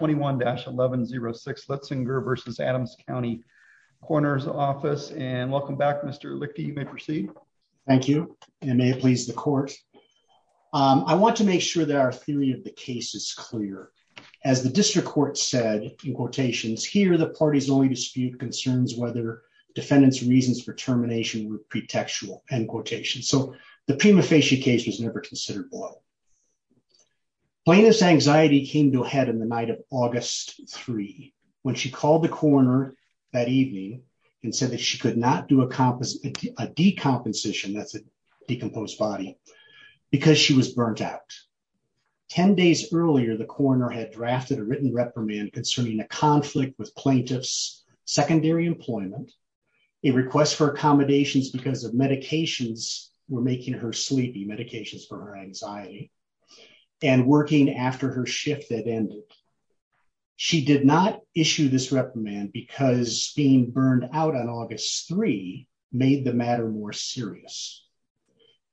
21-1106 Litzsinger v. Adams County Coroner's Office. And welcome back, Mr. Lichty, you may proceed. Thank you, and may it please the court. I want to make sure that our theory of the case is clear. As the district court said in quotations, here the parties only dispute concerns whether defendant's reasons for termination were pretextual, end quotation. So the prima facie case was never considered below. Plaintiff's anxiety came to a head in the night of August 3, when she called the coroner that evening and said that she could not do a decomposition, that's a decomposed body, because she was burnt out. 10 days earlier, the coroner had drafted a written reprimand concerning a conflict with plaintiff's secondary employment, a request for accommodations because of medications were making her sleepy, medications for her anxiety, and working after her shift that ended. She did not issue this reprimand because being burned out on August 3 made the matter more serious.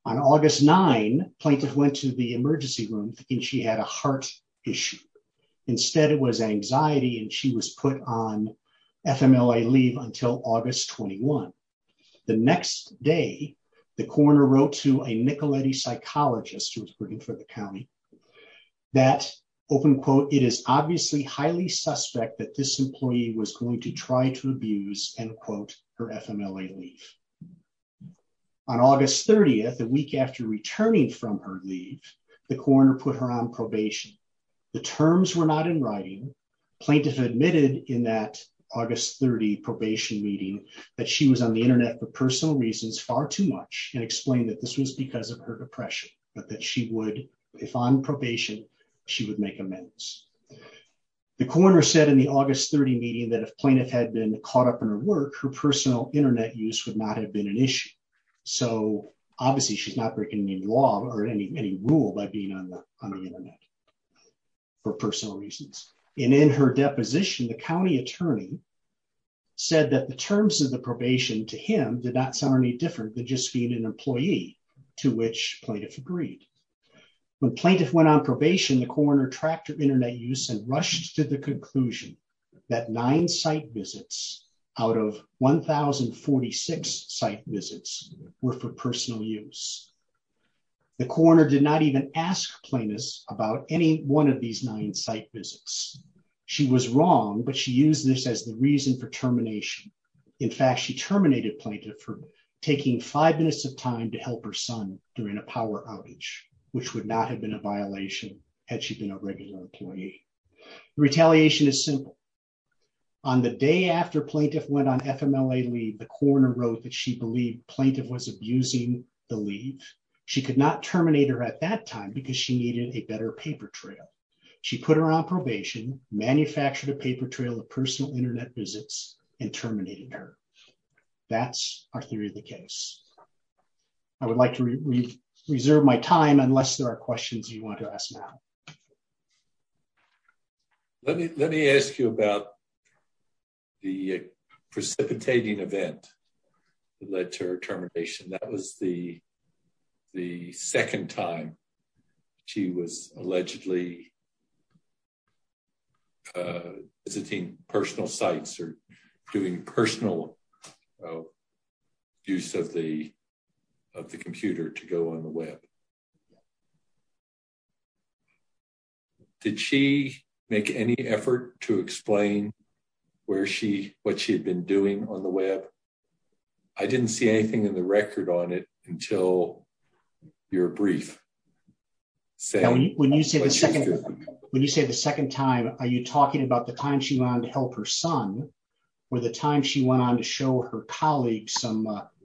On August 9, plaintiff went to the emergency room and she had a heart issue. Instead it was anxiety and she was put on FMLA leave until August 21. The next day, the coroner wrote to a Nicoletti psychologist who was working for the county, that, open quote, it is obviously highly suspect that this employee was going to try to abuse, end quote, her FMLA leave. On August 30, the week after returning from her leave, the coroner put her on probation. The terms were not in writing, plaintiff admitted in that August 30 probation meeting that she was on the internet for personal reasons far too much and explained that this was because of her depression, but that she would, if on probation, she would make amendments. The coroner said in the August 30 meeting that if plaintiff had been caught up in her work, her personal internet use would not have been an issue. So obviously she's not breaking any law or any rule by being on the internet for personal reasons. And in her deposition, the county attorney said that the terms of the probation to him did not sound any different than just being an employee, to which plaintiff agreed. When plaintiff went on probation, the coroner tracked her internet use and rushed to the conclusion that nine site visits out of 1,046 site visits were for personal use. The coroner did not even ask plaintiffs about any one of these nine site visits. She was wrong, but she used this as the reason for termination. In fact, she terminated plaintiff for taking five minutes of time to help her son during a power outage, which would not have been a violation had she been a regular employee. Retaliation is simple. On the day after plaintiff went on FMLA leave, the coroner wrote that she believed plaintiff was abusing the leave. She could not terminate her at that time because she needed a better paper trail. She put her on probation, manufactured a paper trail of personal internet visits, and terminated her. That's our theory of the case. I would like to reserve my time unless there are questions you want to ask now. Let me ask you about the precipitating event that led to her termination. That was the second time she was allegedly visiting personal sites or doing personal use of the computer to go on the web. Did she make any effort to explain what she had been doing on the web? I didn't see anything in the record on it until your brief. When you say the second time, are you talking about the time she went on to help her son or the time she went on to show her colleagues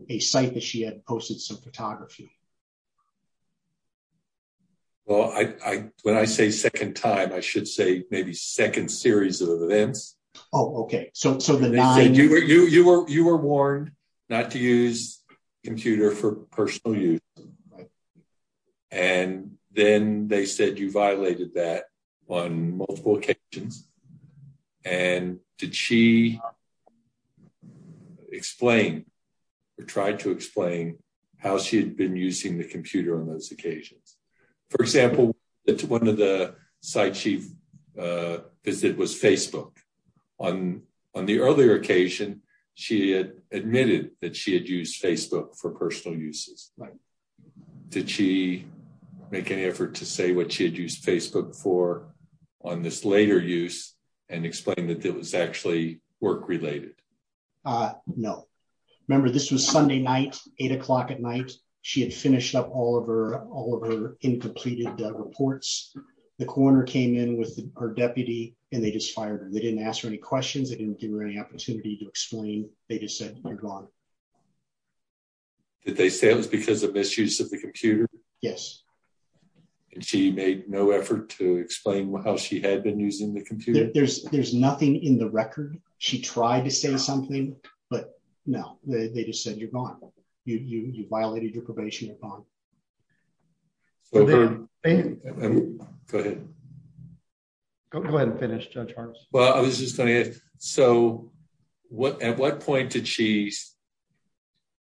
a site that she had posted some photography? Well, when I say second time, I should say maybe second series of events. Oh, okay. So the nine- You were warned not to use computer for personal use. Right. And then they said you violated that on multiple occasions. And did she explain or try to explain how she had been using the computer on those occasions? For example, one of the sites she visited was Facebook. On the earlier occasion, she had admitted that she had used Facebook for personal uses. Right. Did she make any effort to say what she had used Facebook for on this later use and explain that it was actually work-related? No. Remember, this was Sunday night, eight o'clock at night. She had finished up all of her incompleted reports. The coroner came in with her deputy and they just fired her. They didn't ask her any questions. They didn't give her any opportunity to explain. They just said, you're gone. Did they say it was because of misuse of the computer? Yes. And she made no effort to explain how she had been using the computer? There's nothing in the record. She tried to say something, but no. They just said, you're gone. You violated your probation. You're gone. Go ahead. Go ahead and finish, Judge Hartz. Well, I was just gonna ask. So at what point did she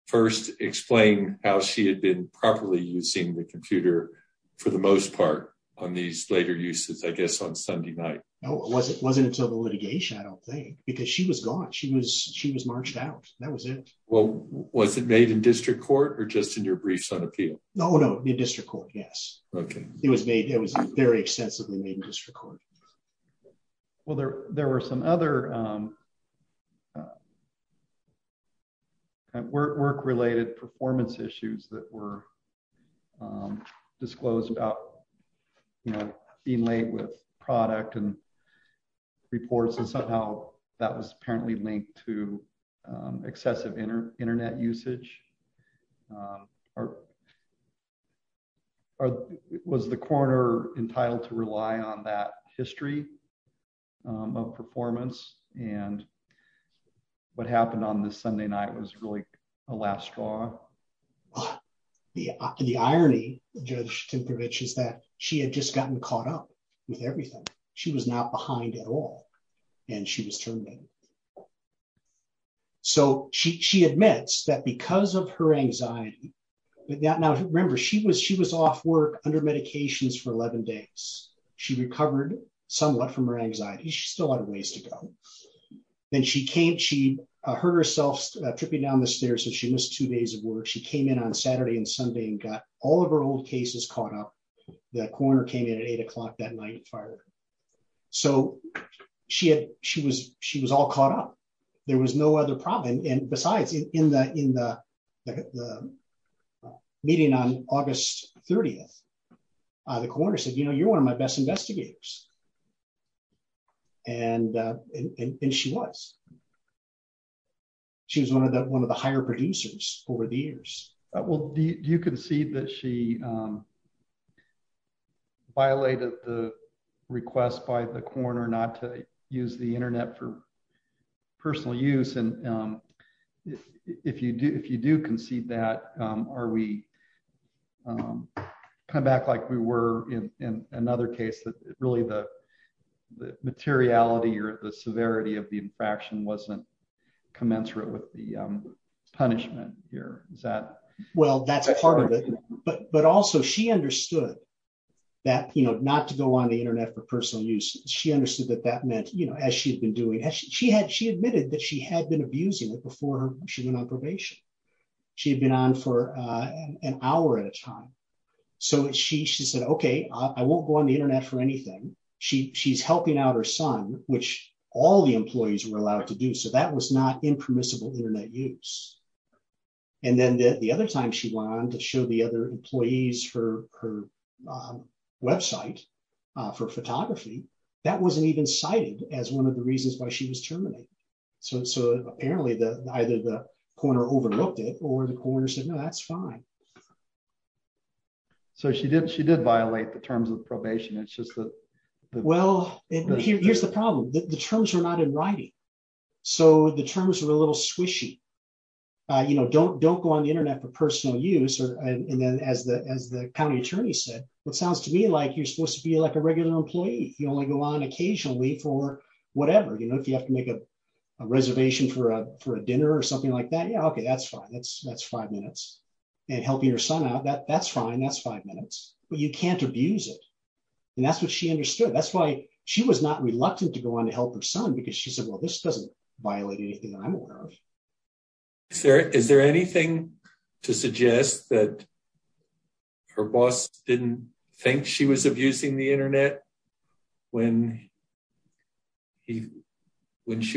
first explain how she had been properly using the computer for the most part on these later uses, I guess, on Sunday night? No, it wasn't until the litigation, I don't think, because she was gone. She was marched out. That was it. Well, was it made in district court or just in your briefs on appeal? No, no, in district court, yes. Okay. It was very extensively made in district court. Well, there were some other work-related performance issues that were disclosed about being late with product and reports, and somehow that was apparently linked to excessive internet usage. Or was the coroner entitled to rely on that history of performance? And what happened on this Sunday night was really a last straw? The irony, Judge Timprovich, is that she had just gotten caught up with everything. She was not behind at all, and she was terminated. So she admits that because of her anxiety, now remember, she was off work under medications for 11 days. She recovered somewhat from her anxiety. She still had a ways to go. Then she hurt herself tripping down the stairs, so she missed two days of work. She came in on Saturday and Sunday and got all of her old cases caught up. The coroner came in at eight o'clock that night and fired her So she was all caught up. There was no other problem. And besides, in the meeting on August 30th, the coroner said, you know, you're one of my best investigators. And she was. She was one of the higher producers over the years. Well, do you concede that she violated the request by the coroner not to use the internet for personal use? And if you do concede that, are we coming back like we were in another case that really the materiality or the severity of the infraction wasn't commensurate with the punishment here? Is that? Well, that's part of it. But also she understood that, you know, not to go on the internet for personal use. She understood that that meant, you know, as she had been doing, she admitted that she had been abusing it before she went on probation. She had been on for an hour at a time. So she said, okay, I won't go on the internet for anything. She's helping out her son, which all the employees were allowed to do. So that was not impermissible internet use. And then the other time she went on to show the other employees her website for photography, that wasn't even cited as one of the reasons why she was terminated. So apparently either the coroner overlooked it or the coroner said, no, that's fine. So she did violate the terms of probation. It's just that- Well, here's the problem. The terms were not in writing. So the terms were a little squishy. You know, don't go on the internet for personal use and then as the county attorney said, what sounds to me like you're supposed to be like a regular employee. You only go on occasionally for whatever. You know, if you have to make a reservation for a dinner or something like that, yeah, okay, that's fine. That's five minutes. And helping your son out, that's fine. That's five minutes, but you can't abuse it. And that's what she understood. That's why she was not reluctant to go on to help her son because she said, well, this doesn't violate anything that I'm aware of. Is there anything to suggest that her boss didn't think she was abusing the internet when she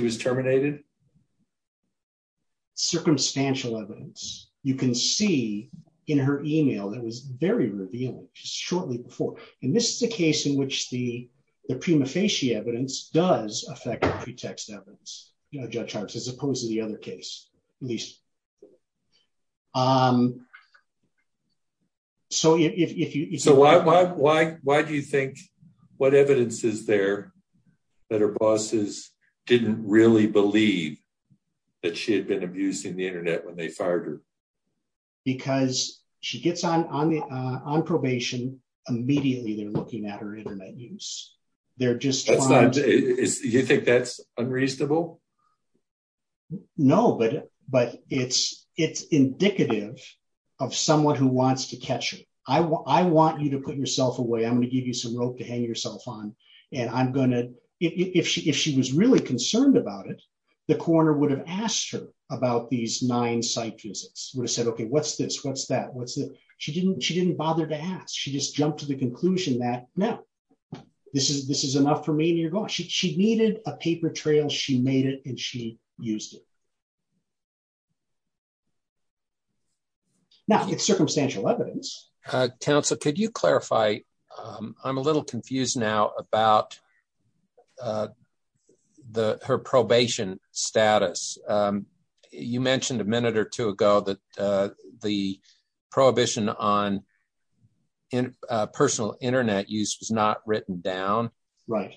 was terminated? Circumstantial evidence. You can see in her email that was very revealing just shortly before. And this is a case in which the prima facie evidence does affect the pretext evidence, you know, Judge Hart's, as opposed to the other case, at least. So if you- So why do you think, what evidence is there that her bosses didn't really believe that she had been abusing the internet when they fired her? Because she gets on probation, immediately they're looking at her internet use. They're just trying to- No, but it's indicative of someone who wants to catch her. I want you to put yourself away. I'm gonna give you some rope to hang yourself on. And I'm gonna, if she was really concerned about it, the coroner would have asked her about these nine site visits. Would have said, okay, what's this? What's that? What's that? She didn't bother to ask. She just jumped to the conclusion that, no, this is enough for me and you're gone. She needed a paper trail. She made it and she used it. Now, it's circumstantial evidence. Counsel, could you clarify? I'm a little confused now about her probation status. You mentioned a minute or two ago that the prohibition on personal internet use was not written down. Right.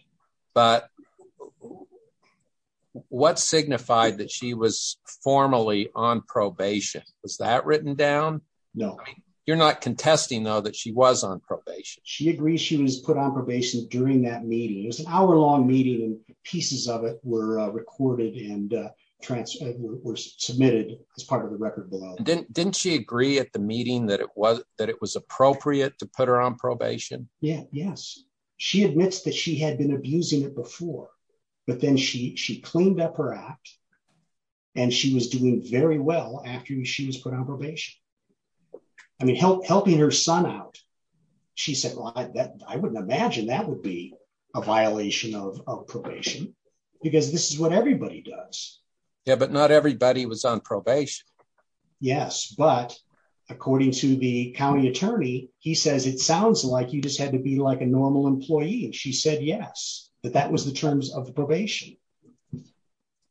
But what signified that she was formally on probation? Was that written down? No. You're not contesting though that she was on probation. She agrees she was put on probation during that meeting. It was an hour long meeting and pieces of it were recorded and were submitted as part of the record below. Didn't she agree at the meeting that it was appropriate to put her on probation? Yeah, yes. She admits that she had been abusing it before, but then she cleaned up her act and she was doing very well after she was put on probation. I mean, helping her son out. She said, well, I wouldn't imagine that would be a violation of probation because this is what everybody does. Yeah, but not everybody was on probation. Yes, but according to the county attorney, he says, it sounds like you just had to be like a normal employee. And she said, yes, that that was the terms of the probation.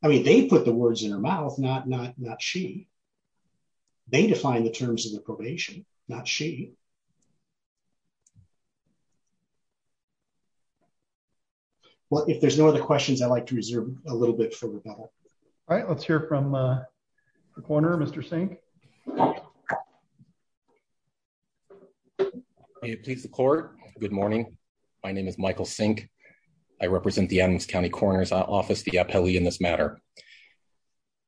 I mean, they put the words in her mouth, not she. They define the terms of the probation, not she. Well, if there's no other questions, I'd like to reserve a little bit for rebuttal. All right, let's hear from the corner, Mr. Sink. Okay. May it please the court. Good morning. My name is Michael Sink. I represent the Adams County Coroner's Office, the appellee in this matter.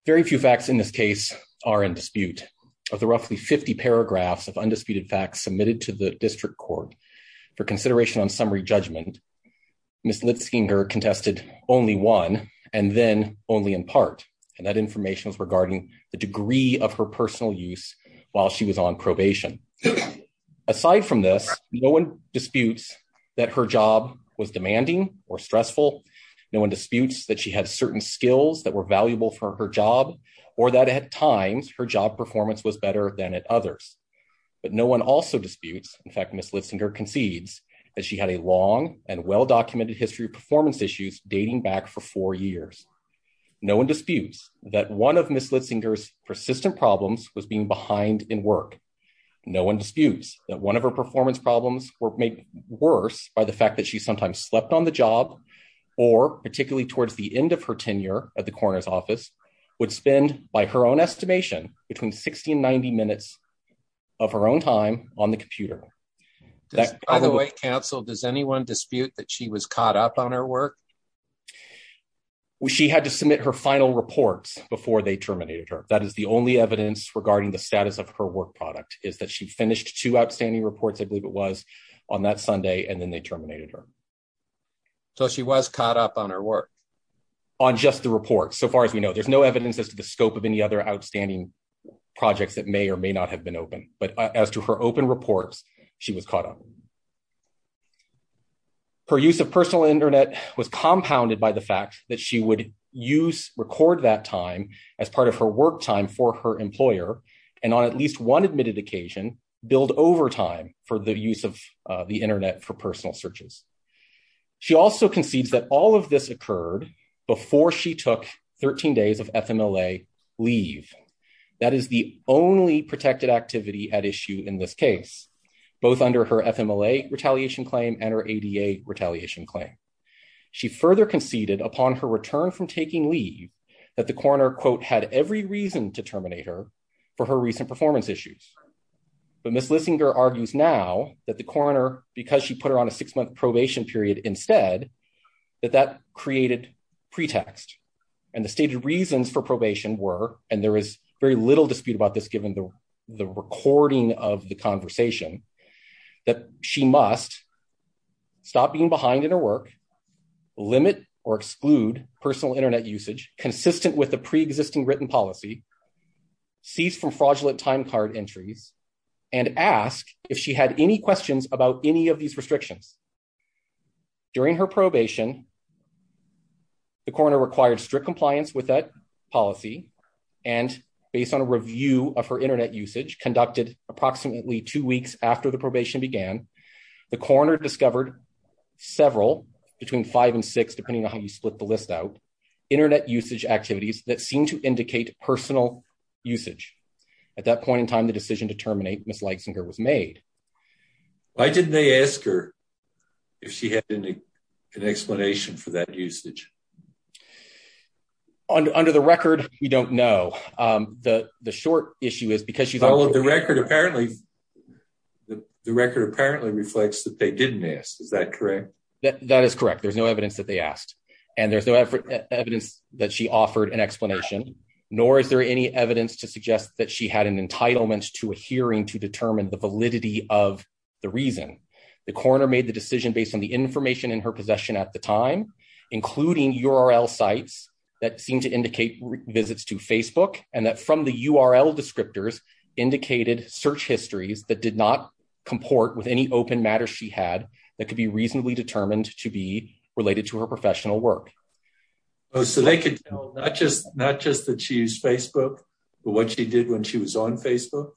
Very few facts in this case are in dispute. Of the roughly 50 paragraphs of undisputed facts submitted to the district court for consideration on summary judgment, Ms. Litzinger contested only one and then only in part. And that information was regarding the degree of her personal use while she was on probation. Aside from this, no one disputes that her job was demanding or stressful. No one disputes that she had certain skills that were valuable for her job, or that at times her job performance was better than at others. But no one also disputes, in fact, Ms. Litzinger concedes that she had a long and well-documented history performance issues dating back for four years. No one disputes that one of Ms. Litzinger's persistent problems was being behind in work. No one disputes that one of her performance problems were made worse by the fact that she sometimes slept on the job or particularly towards the end of her tenure at the coroner's office would spend by her own estimation between 60 and 90 minutes of her own time on the computer. That- By the way, counsel, does anyone dispute that she was caught up on her work? Well, she had to submit her final reports before they terminated her. That is the only evidence regarding the status of her work product is that she finished two outstanding reports, I believe it was, on that Sunday and then they terminated her. So she was caught up on her work? On just the report, so far as we know. There's no evidence as to the scope of any other outstanding projects that may or may not have been open. But as to her open reports, she was caught up. Her use of personal internet was compounded by the fact that she would use, record that time as part of her work time for her employer. And on at least one admitted occasion, build overtime for the use of the internet for personal searches. She also concedes that all of this occurred before she took 13 days of FMLA leave. That is the only protected activity at issue in this case, both under her FMLA retaliation claim and her ADA retaliation claim. She further conceded upon her return from taking leave that the coroner, quote, had every reason to terminate her for her recent performance issues. But Ms. Lissinger argues now that the coroner, because she put her on a six month probation period instead, that that created pretext. And the stated reasons for probation were, and there is very little dispute about this given the recording of the conversation, that she must stop being behind in her work, limit or exclude personal internet usage consistent with the preexisting written policy, cease from fraudulent time card entries, and ask if she had any questions about any of these restrictions. During her probation, the coroner required strict compliance with that policy and based on a review of her internet usage conducted approximately two weeks after the probation began, the coroner discovered several, between five and six, depending on how you split the list out, internet usage activities that seemed to indicate personal usage. At that point in time, the decision to terminate Ms. Lissinger was made. Why didn't they ask her if she had an explanation for that usage? Under the record, we don't know. The short issue is because she's- The record apparently, the record apparently reflects that they didn't ask. Is that correct? That is correct. There's no evidence that they asked and there's no evidence that she offered an explanation, nor is there any evidence to suggest that she had an entitlement to a hearing to determine the validity of the reason. The coroner made the decision based on the information in her possession at the time, including URL sites that seemed to indicate visits to Facebook and that from the URL descriptors indicated search histories that did not comport with any open matters she had that could be reasonably determined to be related to her professional work. Oh, so they could tell, not just that she used Facebook, but what she did when she was on Facebook?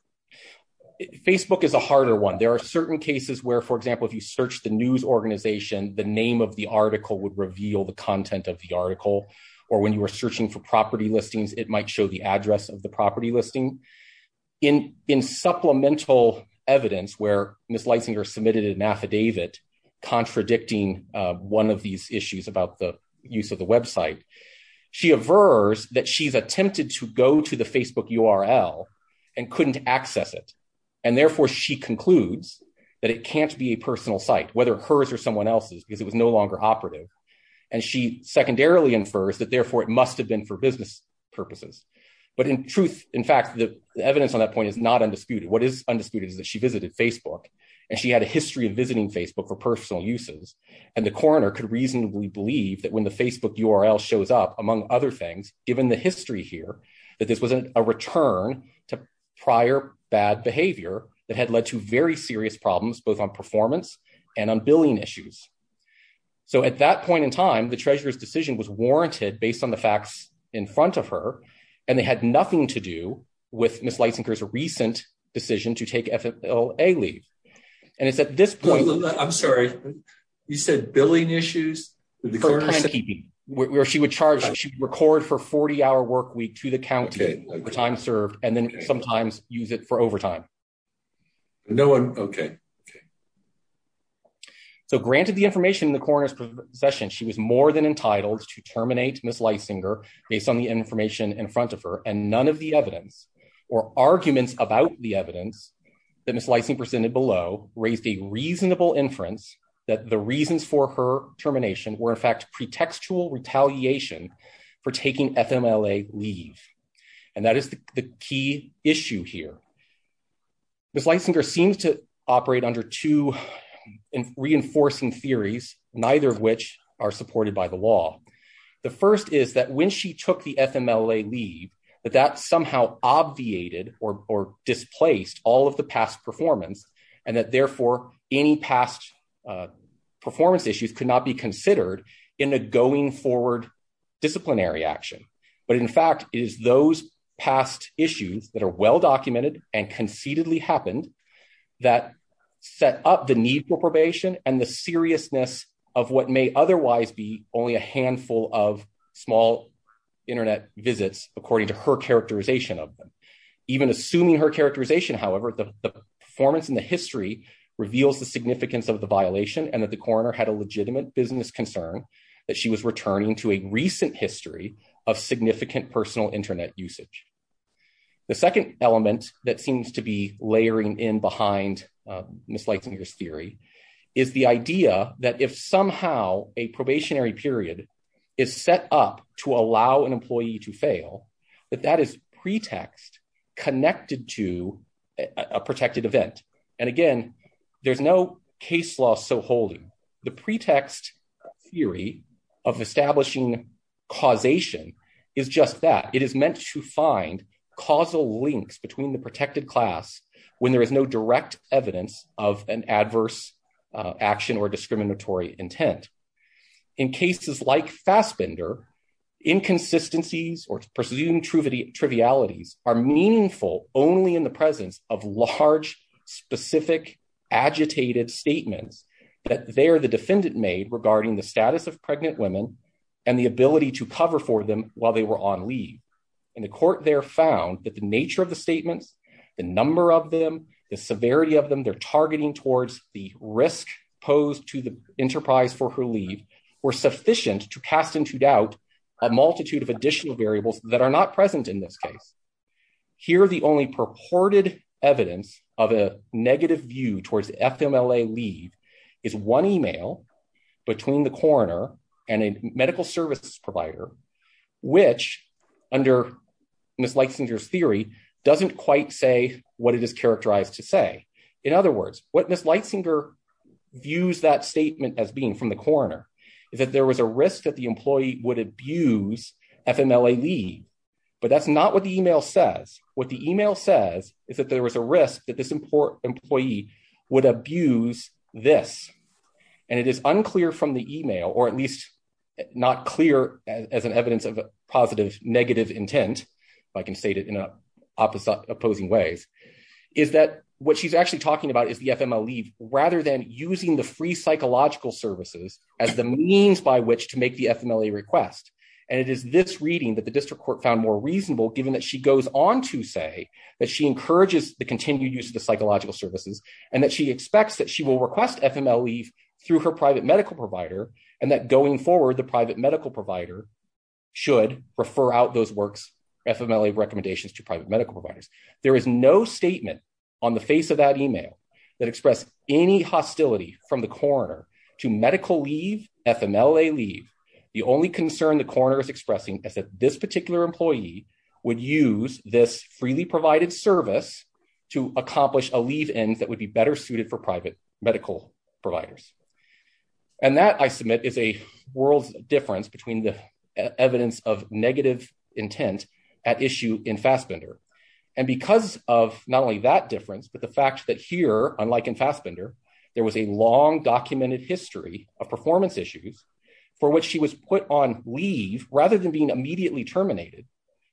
Facebook is a harder one. There are certain cases where, for example, if you search the news organization, the name of the article would reveal the content of the article, or when you were searching for property listings, it might show the address of the property listing. In supplemental evidence, where Ms. Leisinger submitted an affidavit contradicting one of these issues about the use of the website, she avers that she's attempted to go to the Facebook URL and couldn't access it. And therefore she concludes that it can't be a personal site, whether hers or someone else's, because it was no longer operative. And she secondarily infers that therefore it must have been for business purposes. But in truth, in fact, the evidence on that point is not undisputed. What is undisputed is that she visited Facebook and she had a history of visiting Facebook for personal uses. And the coroner could reasonably believe that when the Facebook URL shows up, among other things, given the history here, that this was a return to prior bad behavior that had led to very serious problems, both on performance and on billing issues. So at that point in time, the treasurer's decision was warranted based on the facts in front of her, and they had nothing to do with Ms. Leisinger's recent decision to take FFLA leave. And it's at this point- I'm sorry, you said billing issues? For plan keeping, where she would charge, she would record for 40 hour work week to the county the time served, and then sometimes use it for overtime. No one, okay, okay. So granted the information in the coroner's possession, she was more than entitled to terminate Ms. Leisinger based on the information in front of her, and none of the evidence or arguments about the evidence that Ms. Leisinger presented below raised a reasonable inference that the reasons for her termination were in fact pretextual retaliation for taking FMLA leave. And that is the key issue here. Ms. Leisinger seems to operate under two reinforcing theories, neither of which are supported by the law. The first is that when she took the FMLA leave, that that somehow obviated or displaced all of the past performance, and that therefore any past performance issues could not be considered in a going forward disciplinary action. But in fact, it is those past issues that are well-documented and conceitedly happened that set up the need for probation and the seriousness of what may otherwise be only a handful of small internet visits according to her characterization of them. Even assuming her characterization, however, the performance in the history reveals the significance of the violation and that the coroner had a legitimate business concern that she was returning to a recent history of significant personal internet usage. The second element that seems to be layering in behind Ms. Leisinger's theory is the idea that if somehow a probationary period is set up to allow an employee to fail, that that is pretext connected to a protected event. And again, there's no case law so holding. The pretext theory of establishing causation is just that. It is meant to find causal links between the protected class when there is no direct evidence of an adverse action or discriminatory intent. In cases like Fassbender, inconsistencies or presumed trivialities are meaningful only in the presence of large specific agitated statements that there the defendant made regarding the status of pregnant women and the ability to cover for them while they were on leave. And the court there found that the nature of the statements, the number of them, the severity of them, they're targeting towards the risk posed to the enterprise for her leave were sufficient to cast into doubt a multitude of additional variables that are not present in this case. Here, the only purported evidence of a negative view towards FMLA leave is one email between the coroner and a medical services provider, which under Ms. Leitzinger's theory doesn't quite say what it is characterized to say. In other words, what Ms. Leitzinger views that statement as being from the coroner is that there was a risk that the employee would abuse FMLA leave, but that's not what the email says. What the email says is that there was a risk that this employee would abuse this. And it is unclear from the email, or at least not clear as an evidence of a positive negative intent, if I can state it in opposing ways, is that what she's actually talking about is the FMLA leave rather than using the free psychological services as the means by which to make the FMLA request. And it is this reading that the district court found more reasonable given that she goes on to say that she encourages the continued use of the psychological services and that she expects that she will request FMLA leave through her private medical provider and that going forward, the private medical provider should refer out those works FMLA recommendations to private medical providers. There is no statement on the face of that email that express any hostility from the coroner to medical leave, FMLA leave. The only concern the coroner is expressing is that this particular employee would use this freely provided service to accomplish a leave end that would be better suited for private medical providers. And that I submit is a world's difference between the evidence of negative intent at issue in Fassbender. And because of not only that difference, but the fact that here, unlike in Fassbender, there was a long documented history of performance issues for which she was put on leave rather than being immediately terminated,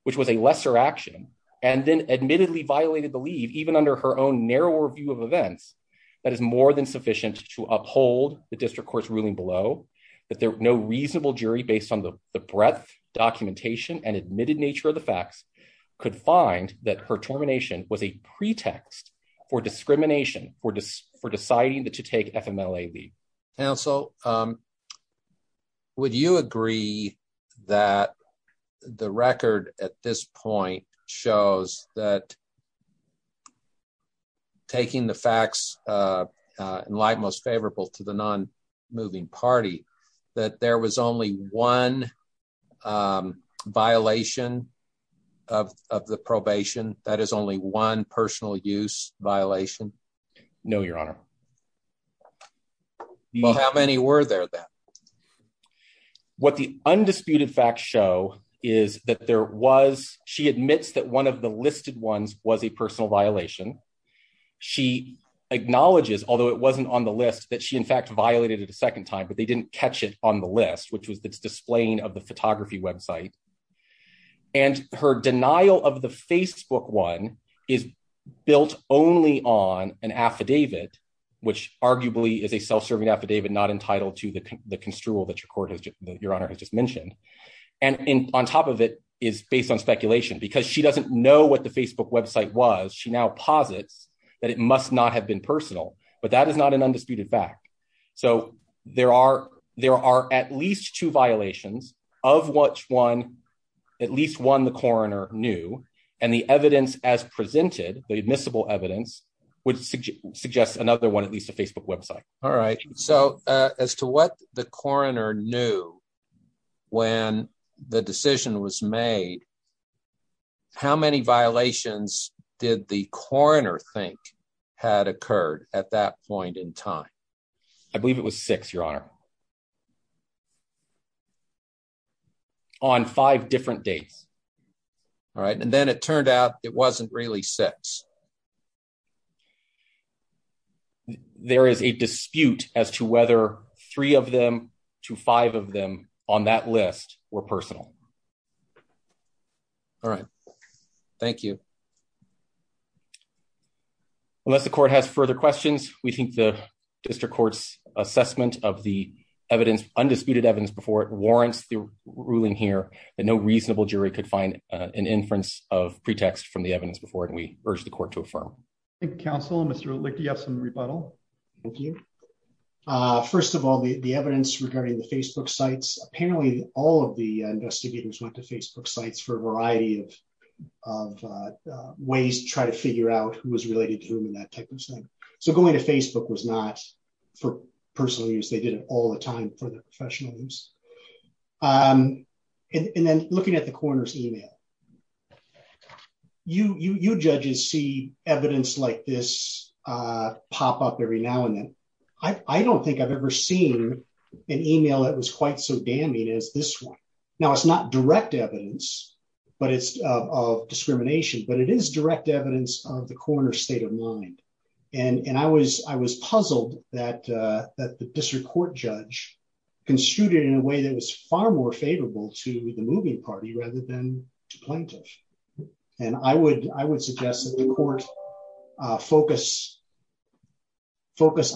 which was a lesser action and then admittedly violated the leave even under her own narrower view of events that is more than sufficient to uphold the district court's ruling below that there are no reasonable jury based on the breadth documentation and admitted nature of the facts could find that her termination was a pretext for discrimination for deciding to take FMLA leave. Council, would you agree that the record at this point shows that taking the facts in light most favorable to the non moving party, that there was only one violation of the probation that is only one personal use violation? No, your honor. You have any word there that? What the undisputed facts show is that there was, she admits that one of the listed ones was a personal violation. She acknowledges, although it wasn't on the list, that she in fact violated it a second time, but they didn't catch it on the list, which was the displaying of the photography website. And her denial of the Facebook one is built only on an affidavit, which arguably is a self-serving affidavit not entitled to the construal that your honor has just mentioned. And on top of it is based on speculation because she doesn't know what the Facebook website was. She now posits that it must not have been personal, but that is not an undisputed fact. So there are at least two violations of what one, at least one, the coroner knew, and the evidence as presented, the admissible evidence, would suggest another one, at least a Facebook website. All right, so as to what the coroner knew when the decision was made, how many violations did the coroner think had occurred at that point in time? I believe it was six, your honor. On five different dates. All right, and then it turned out it wasn't really six. There is a dispute as to whether three of them to five of them on that list were personal. All right, thank you. Unless the court has further questions, we think the district court's assessment of the undisputed evidence before it warrants the ruling here that no reasonable jury could find an inference of pretext from the evidence before it, and we urge the court to affirm. Thank you, counsel. Mr. Lick, do you have some rebuttal? Thank you. First of all, the evidence regarding the Facebook sites, apparently all of the investigators went to Facebook sites for a variety of ways to try to figure out who was related to whom and that type of thing. So going to Facebook was not for personal use. They did it all the time for the professional use. And then looking at the coroner's email, you judges see evidence like this pop up every now and then. I don't think I've ever seen an email that was quite so damning as this one. Now, it's not direct evidence of discrimination, but it is direct evidence of the coroner's state of mind. And I was puzzled that the district court judge construed it in a way that was far more favorable to the moving party rather than to plaintiff. And I would suggest that the court focus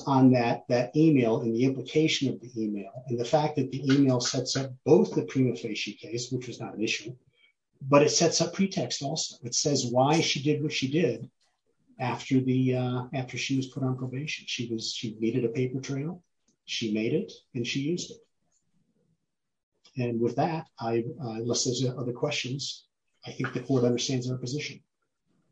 on that email and the implication of the email and the fact that the email sets up both the prima facie case, which was not an issue, but it sets up pretext also. It says why she did what she did after she was put on probation. She needed a paper trail, she made it and she used it. And with that, unless there's other questions, I think the court understands our position.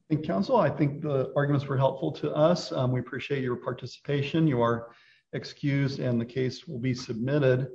And counsel, I think the arguments were helpful to us. We appreciate your participation. You are excused and the case will be submitted.